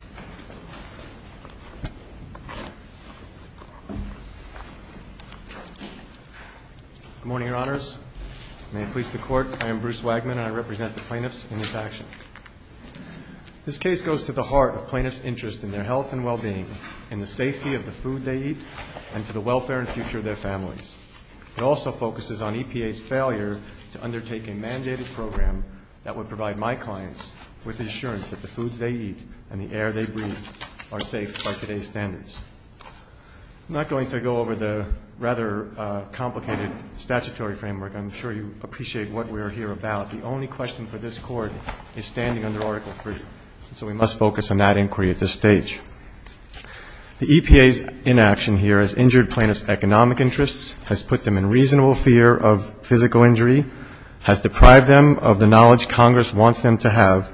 Good morning, Your Honors. May it please the Court, I am Bruce Wagman, and I represent the plaintiffs in this action. This case goes to the heart of plaintiffs' interest in their health and well-being, in the safety of the food they eat, and to the welfare and future of their families. It also focuses on EPA's failure to undertake a mandated program that would provide my clients with the assurance that the foods they eat and the air they breathe are safe by today's standards. I'm not going to go over the rather complicated statutory framework. I'm sure you appreciate what we're here about. The only question for this Court is standing under Article III, so we must focus on that inquiry at this stage. The EPA's inaction here has injured plaintiffs' economic interests, has put them in reasonable fear of physical injury, has deprived them of the knowledge Congress wants them to have,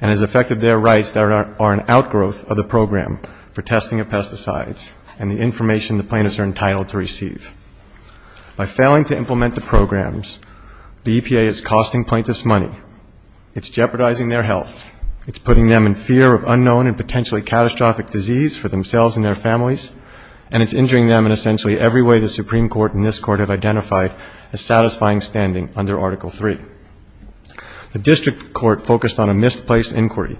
and has affected their rights that are an outgrowth of the program for testing of pesticides and the information the plaintiffs are entitled to receive. By failing to implement the programs, the EPA is costing plaintiffs money, it's jeopardizing their health, it's putting them in fear of unknown and potentially catastrophic disease for themselves and their families, and it's injuring them in essentially every way the satisfying standing under Article III. The District Court focused on a misplaced inquiry,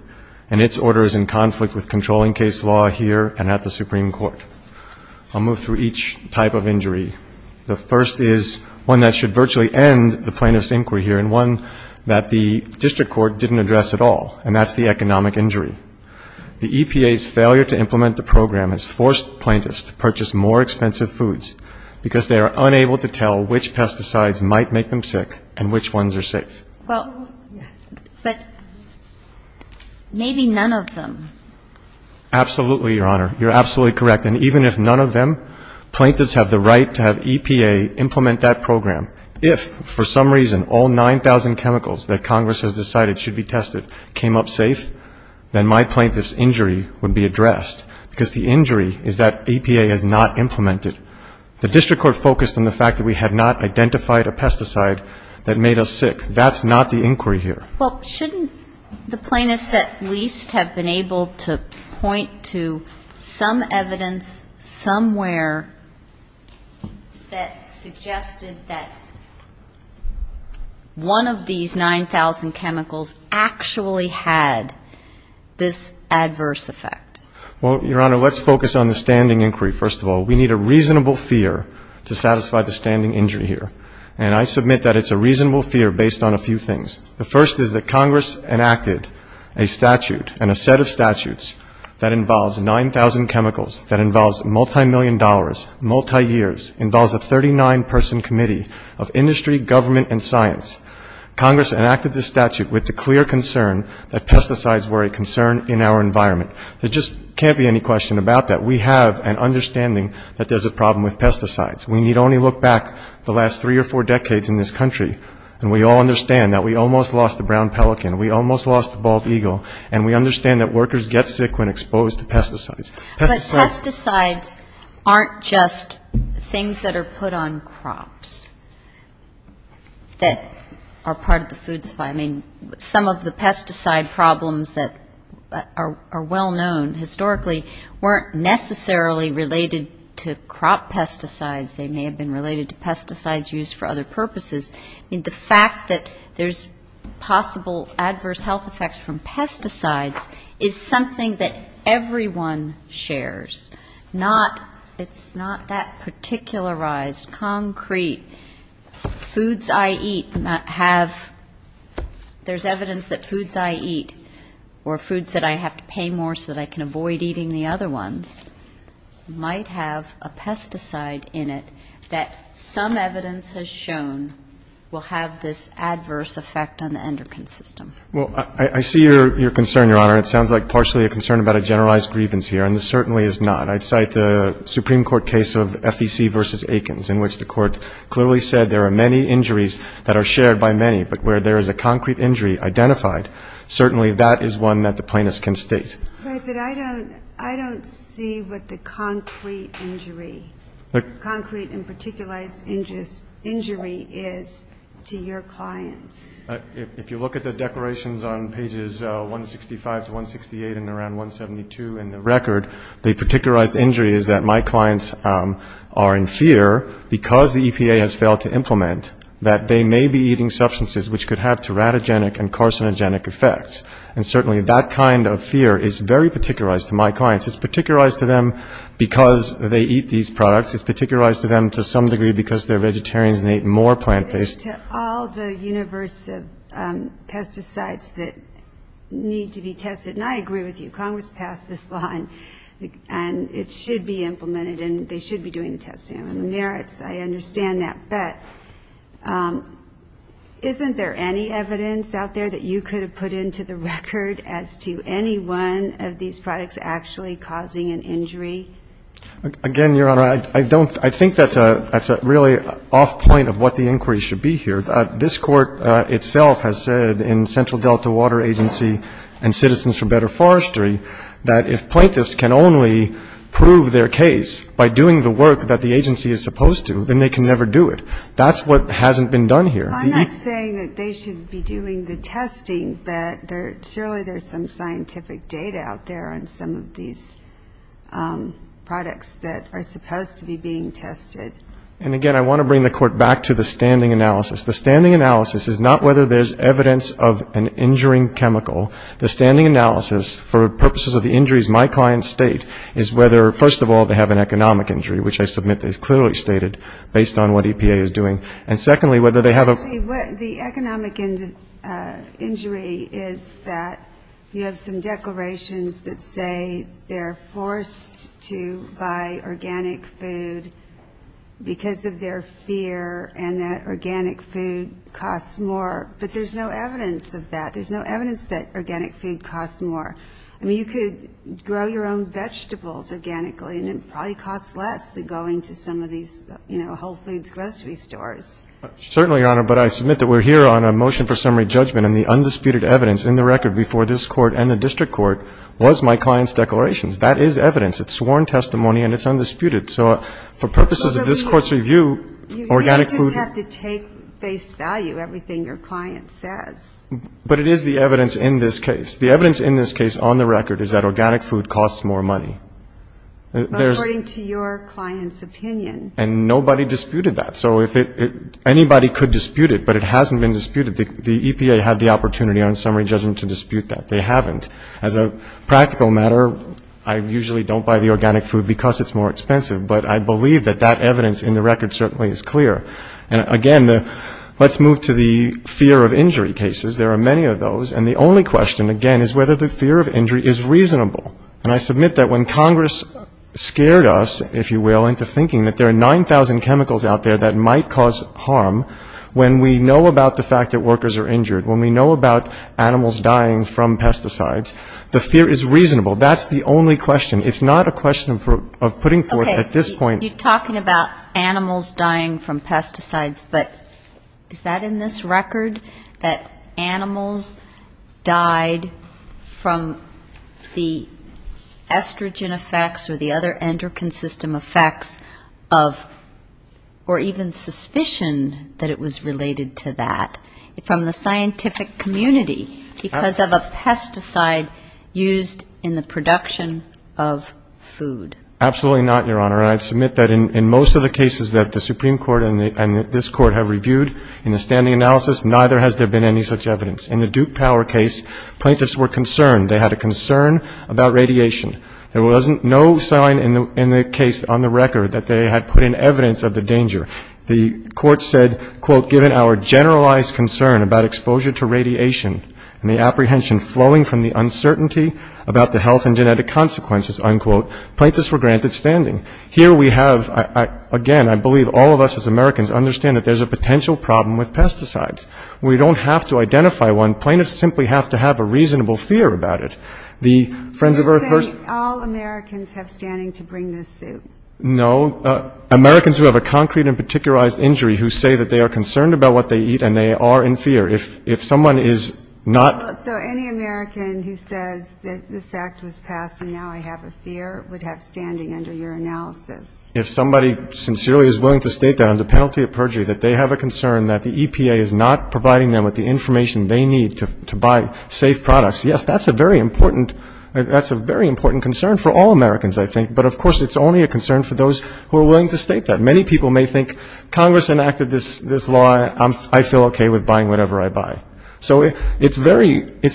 and its order is in conflict with controlling case law here and at the Supreme Court. I'll move through each type of injury. The first is one that should virtually end the plaintiffs' inquiry here, and one that the District Court didn't address at all, and that's the economic injury. The EPA's failure to implement the program has forced plaintiffs to purchase more expensive foods, because they are unable to tell which pesticides might make them sick and which ones are safe. Well, but maybe none of them. Absolutely, Your Honor. You're absolutely correct. And even if none of them, plaintiffs have the right to have EPA implement that program. If, for some reason, all 9,000 chemicals that Congress has decided should be tested came up safe, then my plaintiff's injury would be addressed, because the injury is that EPA has not implemented. The District Court focused on the fact that we had not identified a pesticide that made us sick. That's not the inquiry here. Well, shouldn't the plaintiffs at least have been able to point to some evidence somewhere that suggested that one of these 9,000 chemicals actually had this adverse effect? Well, Your Honor, let's focus on the standing inquiry, first of all. We need a reasonable fear to satisfy the standing injury here. And I submit that it's a reasonable fear based on a few things. The first is that Congress enacted a statute and a set of statutes that involves 9,000 chemicals, that involves multimillion dollars, multi-years, involves a 39-person committee of industry, government and science. Congress enacted the statute with the clear concern that pesticides were a concern in our environment. There just can't be any question about that. We have an understanding that there's a problem with pesticides. We need only look back the last three or four decades in this country, and we all understand that we almost lost the brown pelican, we almost lost the bald eagle, and we understand that workers get sick when exposed to pesticides. But pesticides aren't just things that are put on crops that are part of the food supply. I mean, some of the pesticide problems that are well known historically weren't necessarily related to crop pesticides. They may have been related to pesticides used for other purposes. I mean, the fact that there's possible adverse health effects from pesticides is something that everyone shares. It's not that particularized, concrete. Foods I eat have a pesticide. There's evidence that foods I eat or foods that I have to pay more so that I can avoid eating the other ones might have a pesticide in it that some evidence has shown will have this adverse effect on the endocrine system. Well, I see your concern, Your Honor. It sounds like partially a concern about a generalized grievance here, and it certainly is not. I'd cite the Supreme Court case of FEC v. Aikens in which the Court clearly said there are many injuries that are shared by many, but where there is a concrete injury identified, certainly that is one that the plaintiffs can state. Right, but I don't see what the concrete injury, concrete and particularized injury is to your clients. If you look at the declarations on pages 165 to 168 and around 172 in the record, the particularized injury is that my clients are in fear because the EPA has failed to implement that they may be eating substances which could have teratogenic and carcinogenic effects. And certainly that kind of fear is very particularized to my clients. It's particularized to them because they eat these products. It's particularized to them to some degree because they're vegetarians and they eat more plant-based. To all the universe of pesticides that need to be tested, and I agree with you, Congress passed this law, and it should be implemented, and they should be doing the testing. I mean, isn't there any evidence out there that you could have put into the record as to any one of these products actually causing an injury? Again, Your Honor, I don't, I think that's a really off point of what the inquiry should be here. This Court itself has said in Central Delta Water Agency and Citizens for Better Forestry that if plaintiffs can only prove their case by doing the work that the agency is supposed to, then they can never do it. That's what hasn't been done here. I'm not saying that they should be doing the testing, but surely there's some scientific data out there on some of these products that are supposed to be being tested. And again, I want to bring the Court back to the standing analysis. The standing analysis is not whether there's evidence of an injuring chemical. The standing analysis for purposes of the injuries my clients state is whether, first of all, they have an economic injury, which I submit is clearly stated based on what EPA is doing. And secondly, whether they have a ---- Actually, what the economic injury is that you have some declarations that say they're forced to buy organic food because of their fear and that organic food costs more, but there's no evidence of that. There's no evidence that organic food costs more. I mean, you could grow your own vegetables organically and it probably costs less than going to some of these, you know, Whole Foods grocery stores. Certainly, Your Honor, but I submit that we're here on a motion for summary judgment and the undisputed evidence in the record before this Court and the District Court was my client's declarations. That is evidence. It's sworn testimony and it's undisputed. So for purposes of this Court's review, organic food ---- You may just have to take face value everything your client says. But it is the evidence in this case. The evidence in this case on the record is that organic food costs more money. According to your client's opinion. And nobody disputed that. So if anybody could dispute it, but it hasn't been disputed, the EPA had the opportunity on summary judgment to dispute that. They haven't. As a practical matter, I usually don't buy the organic food because it's more expensive, but I believe that that evidence in the record certainly is clear. And again, let's move to the fear of injury cases. There are many of those. And the only question, again, is whether the fear of injury is reasonable. And I submit that when Congress scared us, if you will, into thinking that there are 9,000 chemicals out there that might cause harm, when we know about the fact that workers are injured, when we know about animals dying from pesticides, the fear is reasonable. That's the only question. It's not a question of putting forth at this point ---- Absolutely not, Your Honor. And I submit that in most of the cases that the Supreme Court has put forth in the analysis, neither has there been any such evidence. In the Duke Power case, plaintiffs were concerned. They had a concern about radiation. There wasn't no sign in the case on the record that they had put in evidence of the danger. The court said, quote, given our generalized concern about exposure to radiation and the apprehension flowing from the uncertainty about the health and genetic consequences, unquote, plaintiffs were granted standing. Here we have, again, I believe all of us as Americans understand that there's a potential problem with pesticides. We don't have to identify one. Plaintiffs simply have to have a reasonable fear about it. The Friends of Earth ---- You're saying all Americans have standing to bring this suit? No. Americans who have a concrete and particularized injury who say that they are concerned about what they eat and they are in fear. If someone is not ---- So any American who says that this Act was passed and now I have a fear would have standing under your analysis? If somebody sincerely is willing to state that under penalty of perjury, that they have a concern that the EPA is not providing them with the information they need to buy safe products, yes, that's a very important concern for all Americans, I think, but of course it's only a concern for those who are willing to state that. Many people may think Congress enacted this law, I feel okay with buying whatever I buy. So it's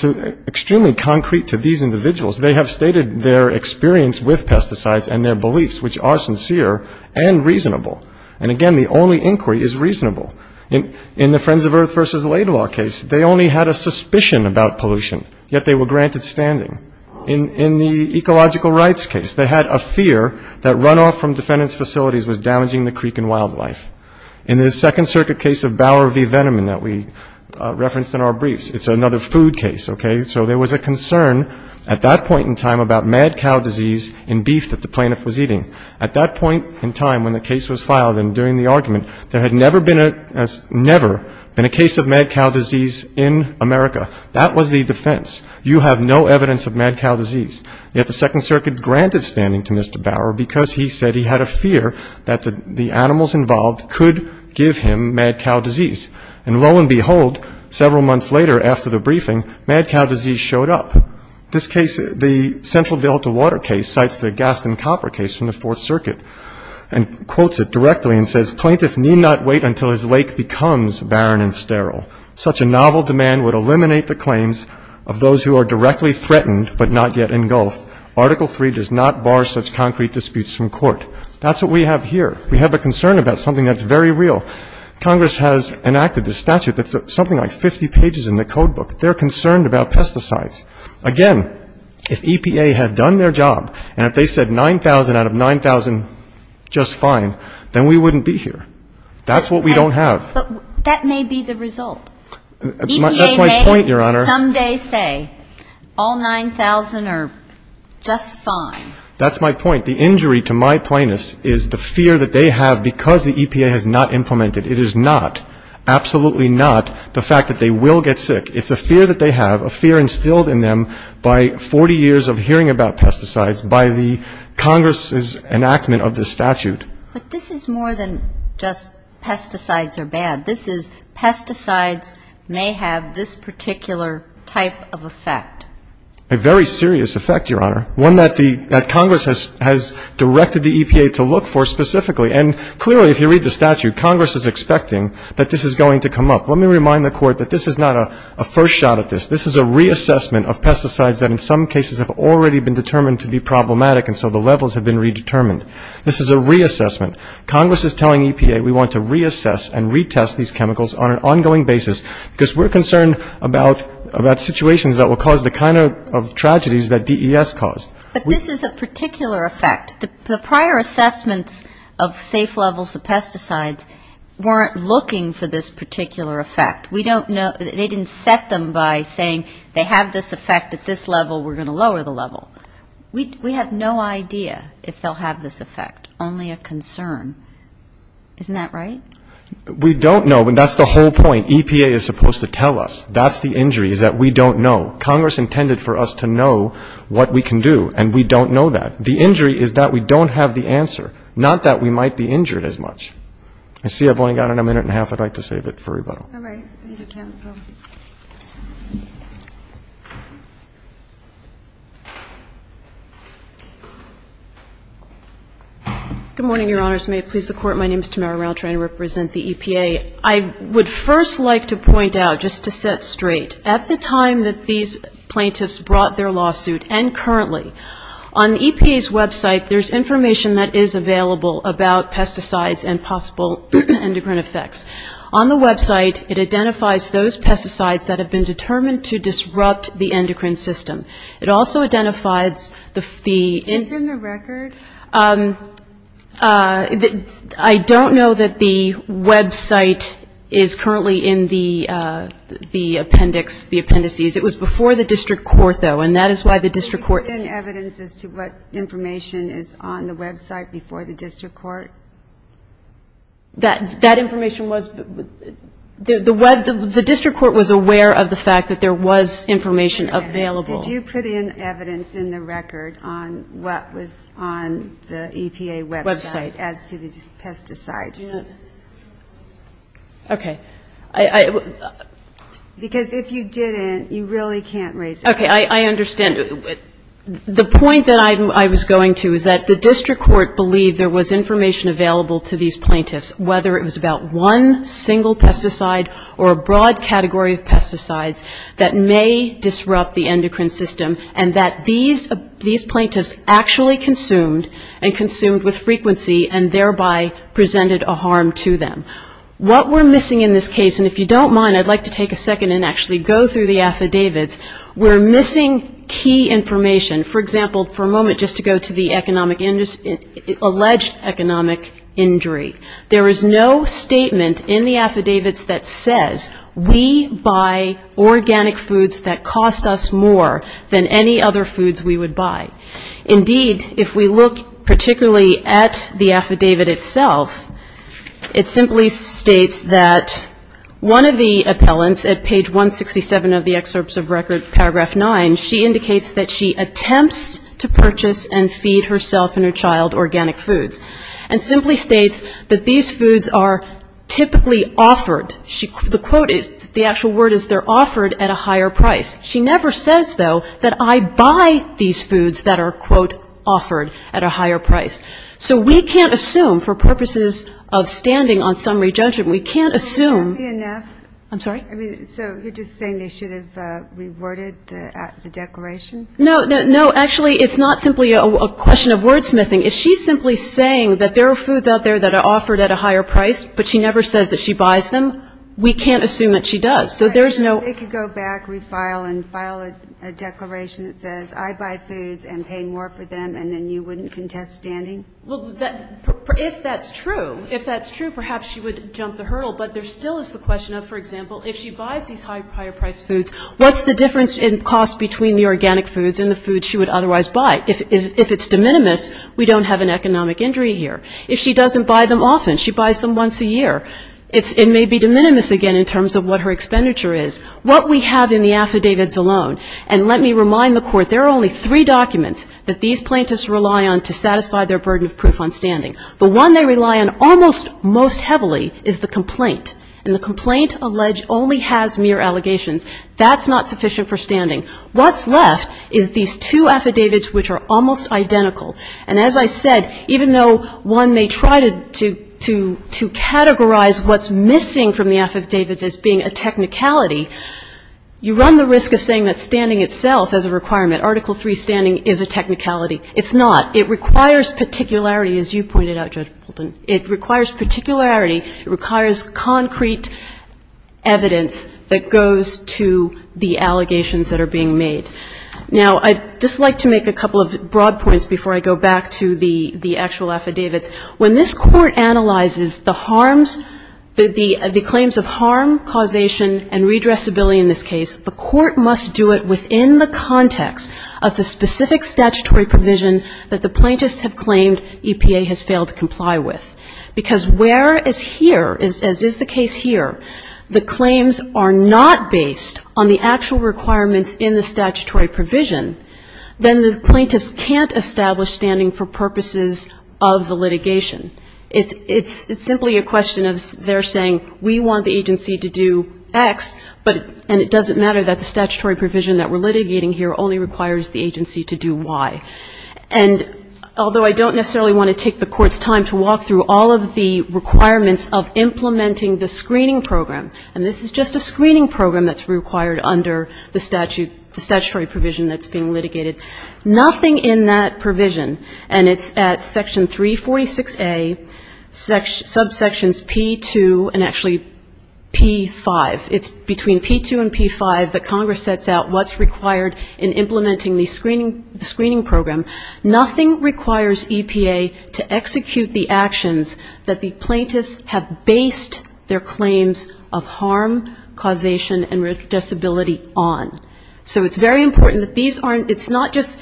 extremely concrete to these individuals. They have stated their experience with pesticides and their beliefs, which are sincere and reasonable. And again, the only inquiry is reasonable. In the Friends of Earth v. Laidlaw case, they only had a suspicion about pollution, yet they were granted standing. In the ecological rights case, they had a fear that runoff from defendant's facilities was damaging the creek and wildlife. In the Second Circuit case of Bower v. Veneman that we referenced in our briefs, it's another food case, okay? So there was a concern at that point in time about mad cow disease in At that point in time when the case was filed and during the argument, there had never been a case of mad cow disease in America. That was the defense. You have no evidence of mad cow disease. Yet the Second Circuit granted standing to Mr. Bower because he said he had a fear that the animals involved could give him mad cow disease. And lo and behold, several months later after the briefing, mad cow disease showed up. This case, the Central Delta Water case, cites the Gaston Copper case from the Fourth Circuit and quotes it directly and says, Plaintiff need not wait until his lake becomes barren and sterile. Such a novel demand would eliminate the claims of those who are directly threatened but not yet engulfed. Article 3 does not bar such concrete disputes from court. That's what we have here. We have a concern about something that's very real. Congress has enacted a statute that's something like 50 pages in the code book. They're concerned about pesticides. Again, if EPA had done their job and if they said 9,000 out of 9,000 just fine, then we wouldn't be here. That's what we don't have. But that may be the result. That's my point, Your Honor. EPA may someday say all 9,000 are just fine. That's my point. The injury to my plaintiffs is the fear that they have because the EPA has not implemented. It is not, absolutely not, the fact that they will get sick. It's the fear that they have, a fear instilled in them by 40 years of hearing about pesticides, by the Congress's enactment of this statute. But this is more than just pesticides are bad. This is pesticides may have this particular type of effect. A very serious effect, Your Honor, one that the – that Congress has directed the EPA to look for specifically. And clearly, if you read the statute, Congress is expecting that this is going to come up. Let me remind the Court that this is not a first shot at this. This is a reassessment of pesticides that in some cases have already been determined to be problematic and so the levels have been redetermined. This is a reassessment. Congress is telling EPA we want to reassess and retest these chemicals on an ongoing basis because we're concerned about situations that will cause the kind of tragedies that DES caused. But this is a particular effect. The prior assessments of safe levels of pesticides weren't looking for this particular effect. We don't know – they didn't set them by saying they have this effect at this level, we're going to lower the level. We have no idea if they'll have this effect, only a concern. Isn't that right? We don't know, but that's the whole point. EPA is supposed to tell us. That's the injury is that we don't know. Congress intended for us to know what we can do and we don't know that. The injury is that we don't have the answer, not that we might be injured as I'd like to save it for rebuttal. All right. I need to cancel. Good morning, Your Honors. May it please the Court. My name is Tamara Rountree. I represent the EPA. I would first like to point out, just to set straight, at the time that these plaintiffs brought their lawsuit and currently, on EPA's website there's information that there are possible endocrine effects. On the website, it identifies those pesticides that have been determined to disrupt the endocrine system. It also identifies the Is this in the record? I don't know that the website is currently in the appendix, the appendices. It was before the district court, though, and that is why the district court Did you put in evidence as to what information is on the website before the district court? That information was, the district court was aware of the fact that there was information available. Did you put in evidence in the record on what was on the EPA website as to these pesticides? Okay. Because if you didn't, you really can't raise a case. Okay. I understand. The point that I was going to is that the district court believed there was information available to these plaintiffs, whether it was about one single pesticide or a broad category of pesticides that may disrupt the endocrine system, and that these plaintiffs actually consumed and consumed with frequency and thereby presented a harm to them. What we're missing in this case, and if you don't mind, I'd like to take a second and actually go through the affidavits, we're missing key information. For example, for a moment, just to go to the economic, alleged economic injury. There is no statement in the affidavits that says we buy organic foods that cost us more than any other foods we would buy. Indeed, if we look particularly at the affidavit itself, it simply states that one of the appellants at page 167 of the excerpts of record, paragraph 9, she indicates that she attempts to purchase and feed herself and her child organic foods, and simply states that these foods are typically offered. The quote is, the actual word is they're offered at a higher price. She never says, though, that I buy these foods that are, quote, offered at a higher price. So we can't assume, for purposes of standing on summary judgment, we can't assume. Is that enough? I'm sorry? I mean, so you're just saying they should have reworded the declaration? No, no, no. Actually, it's not simply a question of wordsmithing. If she's simply saying that there are foods out there that are offered at a higher price, but she never says that she buys them, we can't assume that she does. So there's no ---- They could go back, refile, and file a declaration that says, I buy foods and pay more for them, and then you wouldn't contest standing? Well, if that's true, if that's true, perhaps she would jump the hurdle. But there still is the question of, for example, if she buys these higher-priced foods, what's the difference in cost between the organic foods and the foods she would otherwise buy? If it's de minimis, we don't have an economic injury here. If she doesn't buy them often, she buys them once a year, it may be de minimis again in terms of what her expenditure is. What we have in the affidavits alone, and let me remind the Court, there are only three The one they rely on almost most heavily is the complaint. And the complaint alleged only has mere allegations. That's not sufficient for standing. What's left is these two affidavits which are almost identical. And as I said, even though one may try to categorize what's missing from the affidavits as being a technicality, you run the risk of saying that standing itself is a requirement. Article III standing is a technicality. It's not. It requires particularity, as you pointed out, Judge Bolton. It requires particularity. It requires concrete evidence that goes to the allegations that are being made. Now I'd just like to make a couple of broad points before I go back to the actual affidavits. When this Court analyzes the harms, the claims of harm, causation, and redressability in this case, the Court must do it within the context of the specific statutory provision that the plaintiffs have claimed EPA has failed to comply with. Because where, as here, as is the case here, the claims are not based on the actual requirements in the statutory provision, then the plaintiffs can't establish standing for purposes of the litigation. It's simply a question of their saying, we want the agency to do X, but and it doesn't matter that the statutory provision that we're litigating here only requires the agency to do Y. And although I don't necessarily want to take the Court's time to walk through all of the requirements of implementing the screening program, and this is just a screening program that's required under the statute, the statutory provision that's being litigated, nothing in that provision, and it's at Section 346A, subsections P2 and actually P5, it's between P2 and P5 that Congress sets out what's required in implementing the screening program. Nothing requires EPA to execute the actions that the plaintiffs have based their claims of harm, causation and disability on. So it's very important that these aren't, it's not just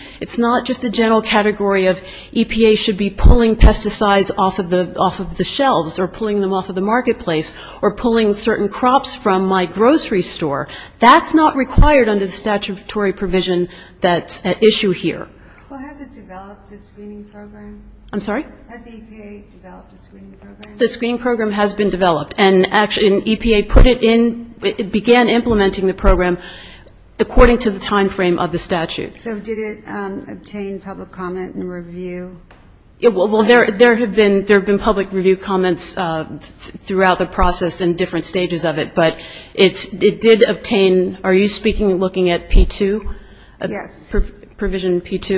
a general category of EPA should be pulling pesticides off of the shelves or pulling them off of the marketplace or pulling certain crops from my grocery store. That's not required under the statutory provision that's at issue here. Q Well, has it developed a screening program? A I'm sorry? Q Has EPA developed a screening program? A The screening program has been developed and actually EPA put it in, began implementing the program according to the time frame of the statute. Q So did it obtain public comment and review? A Well, there have been public review comments throughout the process and different stages of it, but it did obtain, are you speaking and looking at P2? Q Yes. A Provision P2.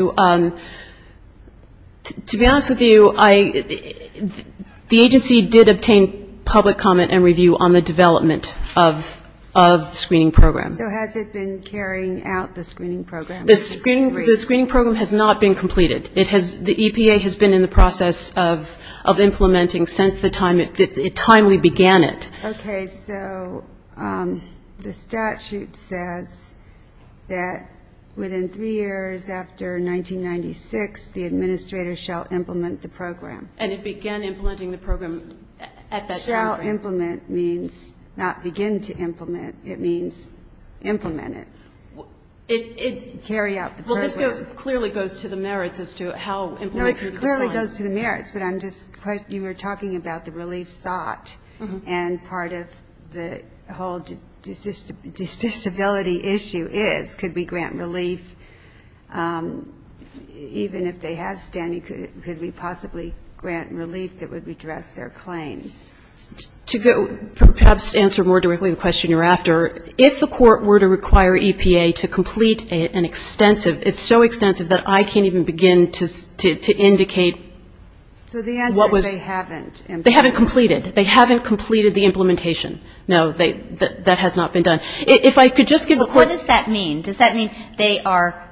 To be honest with you, I, the agency did obtain public comment and review on the development of the screening program. Q So has it been carrying out the screening program? A The screening program has not been completed. It has, the EPA has been in the process of implementing since the time it, the time we began it. Q Okay. So the statute says that within three years after 1996, the administrator shall implement the program. A And it began implementing the program at that time frame. Q Shall implement means not begin to implement. It means implement it. Carry out the program. A Well, this goes, clearly goes to the merits as to how implemented the program. Q No, it clearly goes to the merits, but I'm just, you were talking about the relief sought and part of the whole disability issue is, could we grant relief, even if they have standing, could we possibly grant relief that would redress their claims? A To go, perhaps to answer more directly the question you're after, if the court were to require EPA to complete an extensive, it's so extensive that I can't even begin to indicate what was Q They haven't. A They haven't completed. They haven't completed the implementation. No, that has not been done. If I could just give the court Q Well, what does that mean? Does that mean they are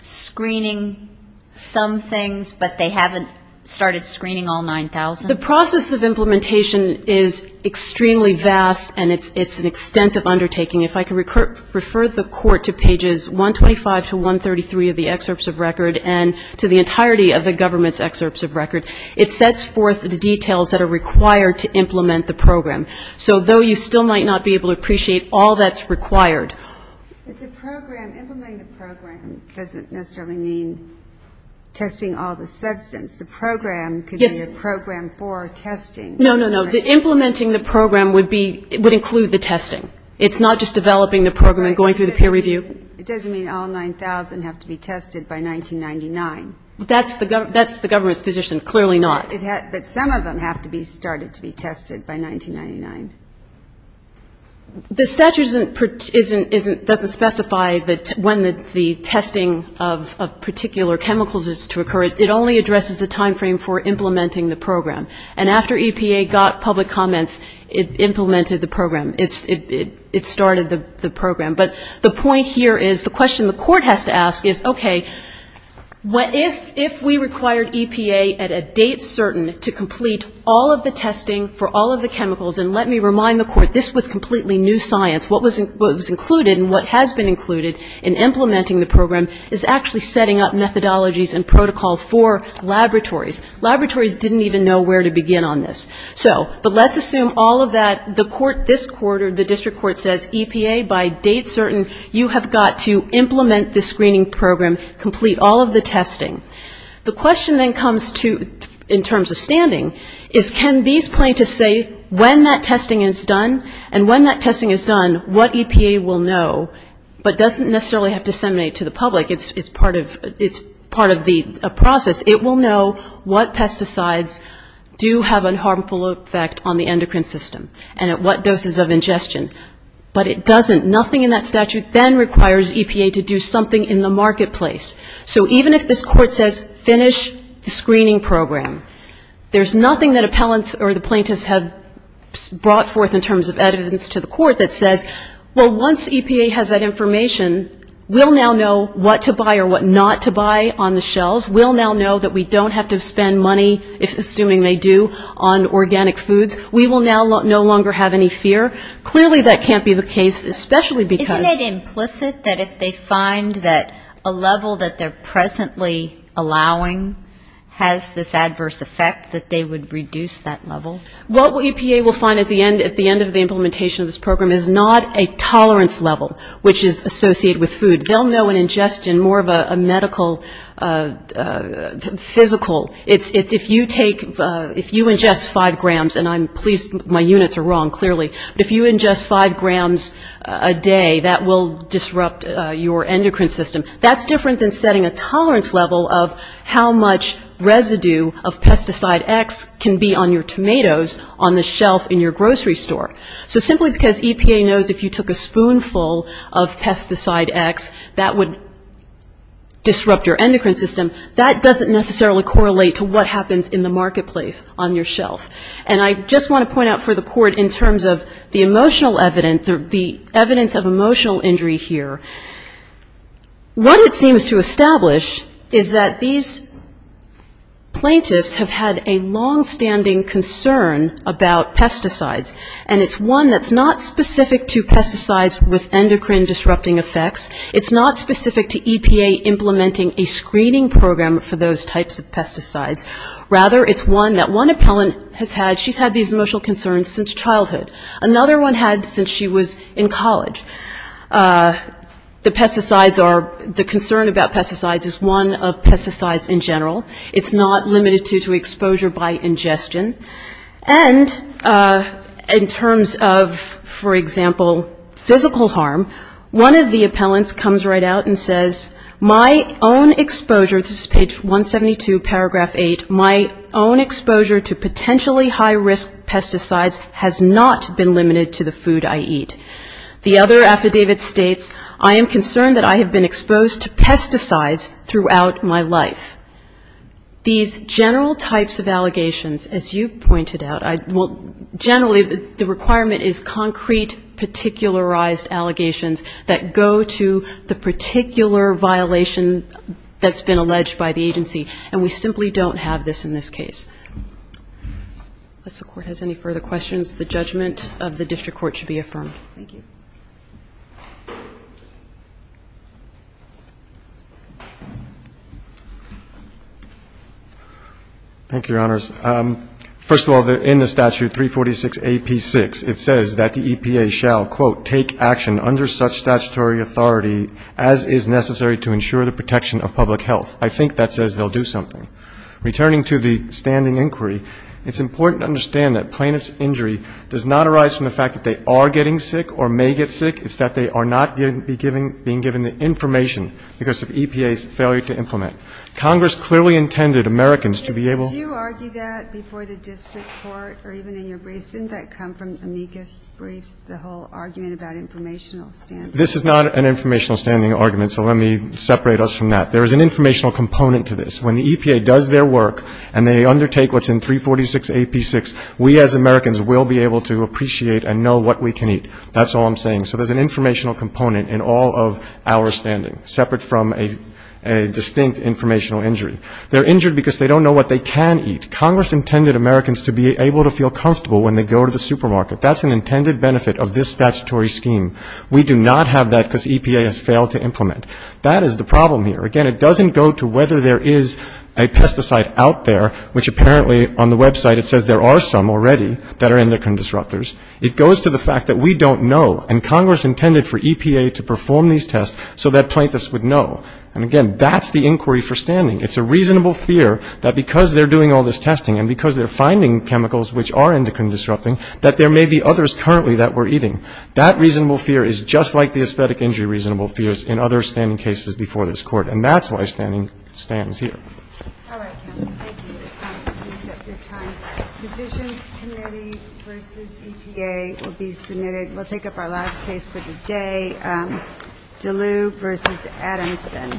screening some things, but they haven't started screening all 9,000? A The process of implementation is extremely vast and it's an extensive undertaking. If I could refer the court to pages 125 to 133 of the excerpts of record and to the entirety of the government's excerpts of record, it sets forth the details that are required to implement the program. So though you still might not be able to appreciate all that's required Q The program, implementing the program doesn't necessarily mean testing all the substance. The program could be a program for testing. A No, no, no. Implementing the program would be, would include the testing. It's not just developing the program and going through the peer review. Q It doesn't mean all 9,000 have to be tested by 1999. A That's the government's position. Clearly not. Q But some of them have to be started to be tested by 1999. A The statute doesn't specify that when the testing of particular chemicals is to occur. It only addresses the time frame for implementing the program. And after EPA got public comments, it implemented the program. It started the program. But the point here is, the question the court has to ask is, okay, if we required EPA at a date certain to complete all of the testing for all of the chemicals, and let me remind the court, this was completely new science. What was included and what has been included in implementing the program is actually setting up methodologies and protocol for laboratories. Laboratories didn't even know where to begin on this. So, but let's assume all of that, the court this quarter, the district court says, EPA, by date certain, you have got to implement the screening program, complete all of the testing. The question then comes to, in terms of standing, is can these plaintiffs say when that testing is done, and when that testing is done, what EPA will know, but doesn't necessarily have to disseminate to the public. It's part of the process. It will know what pesticides do have a harmful effect on the endocrine system, and at what doses of ingestion. But it doesn't. Nothing in that statute then requires EPA to do something in the marketplace. So even if this court says, finish the screening program, there's nothing that appellants or the plaintiffs have brought forth in terms of evidence to the court that says, well, once EPA has that information, we'll now know what to buy or what not to buy on the shelves. We'll now know that we don't have to spend money, assuming they do, on organic foods. We will now no longer have any fear. Clearly that can't be the case, especially because ---- Is it implicit that if they find that a level that they're presently allowing has this adverse effect, that they would reduce that level? What EPA will find at the end of the implementation of this program is not a tolerance level, which is associated with food. They'll know an ingestion more of a medical, physical. It's if you take, if you ingest 5 grams, and I'm pleased my units are wrong, clearly, but if you ingest 5 grams a day, that will disrupt your endocrine system. That's different than setting a tolerance level of how much residue of pesticide X can be on your tomatoes on the shelf in your grocery store. So simply because EPA knows if you took a spoonful of pesticide X, that would disrupt your endocrine system. That doesn't necessarily correlate to what happens in the marketplace on your shelf. And I just want to point out for the Court, in terms of the emotional evidence, the evidence of emotional injury here, what it seems to establish is that these plaintiffs have had a longstanding concern about pesticides. And it's one that's not specific to pesticides with endocrine disrupting effects. It's not specific to EPA implementing a screening program for those types of pesticides. Rather, it's one that one appellant has had, she's had these emotional concerns since childhood. Another one had since she was in college. The pesticides are, the concern about pesticides is one of pesticides in general. It's not limited to exposure by ingestion. And in terms of, for example, physical harm, one of the appellants comes right out and says, my own exposure, this is page 172, paragraph 8, my own exposure to potentially high risk pesticides has not been limited to the food I eat. The other affidavit states, I am concerned that I have been exposed to pesticides throughout my life. These general types of allegations, as you pointed out, I, well, generally the requirement is concrete, particularized allegations that go to the particular violation that's been alleged by the agency. And we simply don't have this in this case. Unless the Court has any further questions, the judgment of the district court should be affirmed. Thank you. Thank you, Your Honors. First of all, in the statute 346A.P.6, it says that the EPA shall, quote, take action under such statutory authority as is necessary to ensure the protection of public health. I think that says they'll do something. Returning to the standing inquiry, it's important to understand that plaintiff's injury does not arise from the fact that they are getting sick or may get sick. It's that they are not being given the information because of EPA's failure to implement. Congress clearly intended Americans to be able to do that. Did you argue that before the district court or even in your briefs? Didn't that come from amicus briefs, the whole argument about informational standing? This is not an informational standing argument, so let me separate us from that. There is an informational component to this. When the EPA does their work and they undertake what's in 346A.P.6, we as Americans will be able to appreciate and know what we can eat. That's all I'm saying. So there's an informational component in all of our standing, separate from a distinct informational injury. They're injured because they don't know what they can eat. Congress intended Americans to be able to feel comfortable when they go to the supermarket. That's an intended benefit of this statutory scheme. We do not have that because EPA has failed to implement. That is the problem here. Again, it doesn't go to whether there is a pesticide out there, which apparently on the website it says there are some already that are endocrine disruptors. It goes to the fact that we don't know, and Congress intended for EPA to perform these tests so that plaintiffs would know. And again, that's the inquiry for standing. It's a reasonable fear that because they're doing all this testing and because they're finding chemicals which are endocrine disrupting, that there may be others currently that we're eating. That reasonable fear is just like the aesthetic injury reasonable fears in other standing cases before this court, and that's why standing stands here. All right, counsel. Thank you. Please set your time. Positions committee versus EPA will be submitted. We'll take up our last case for the day. DeLue versus Adamson. Thank you.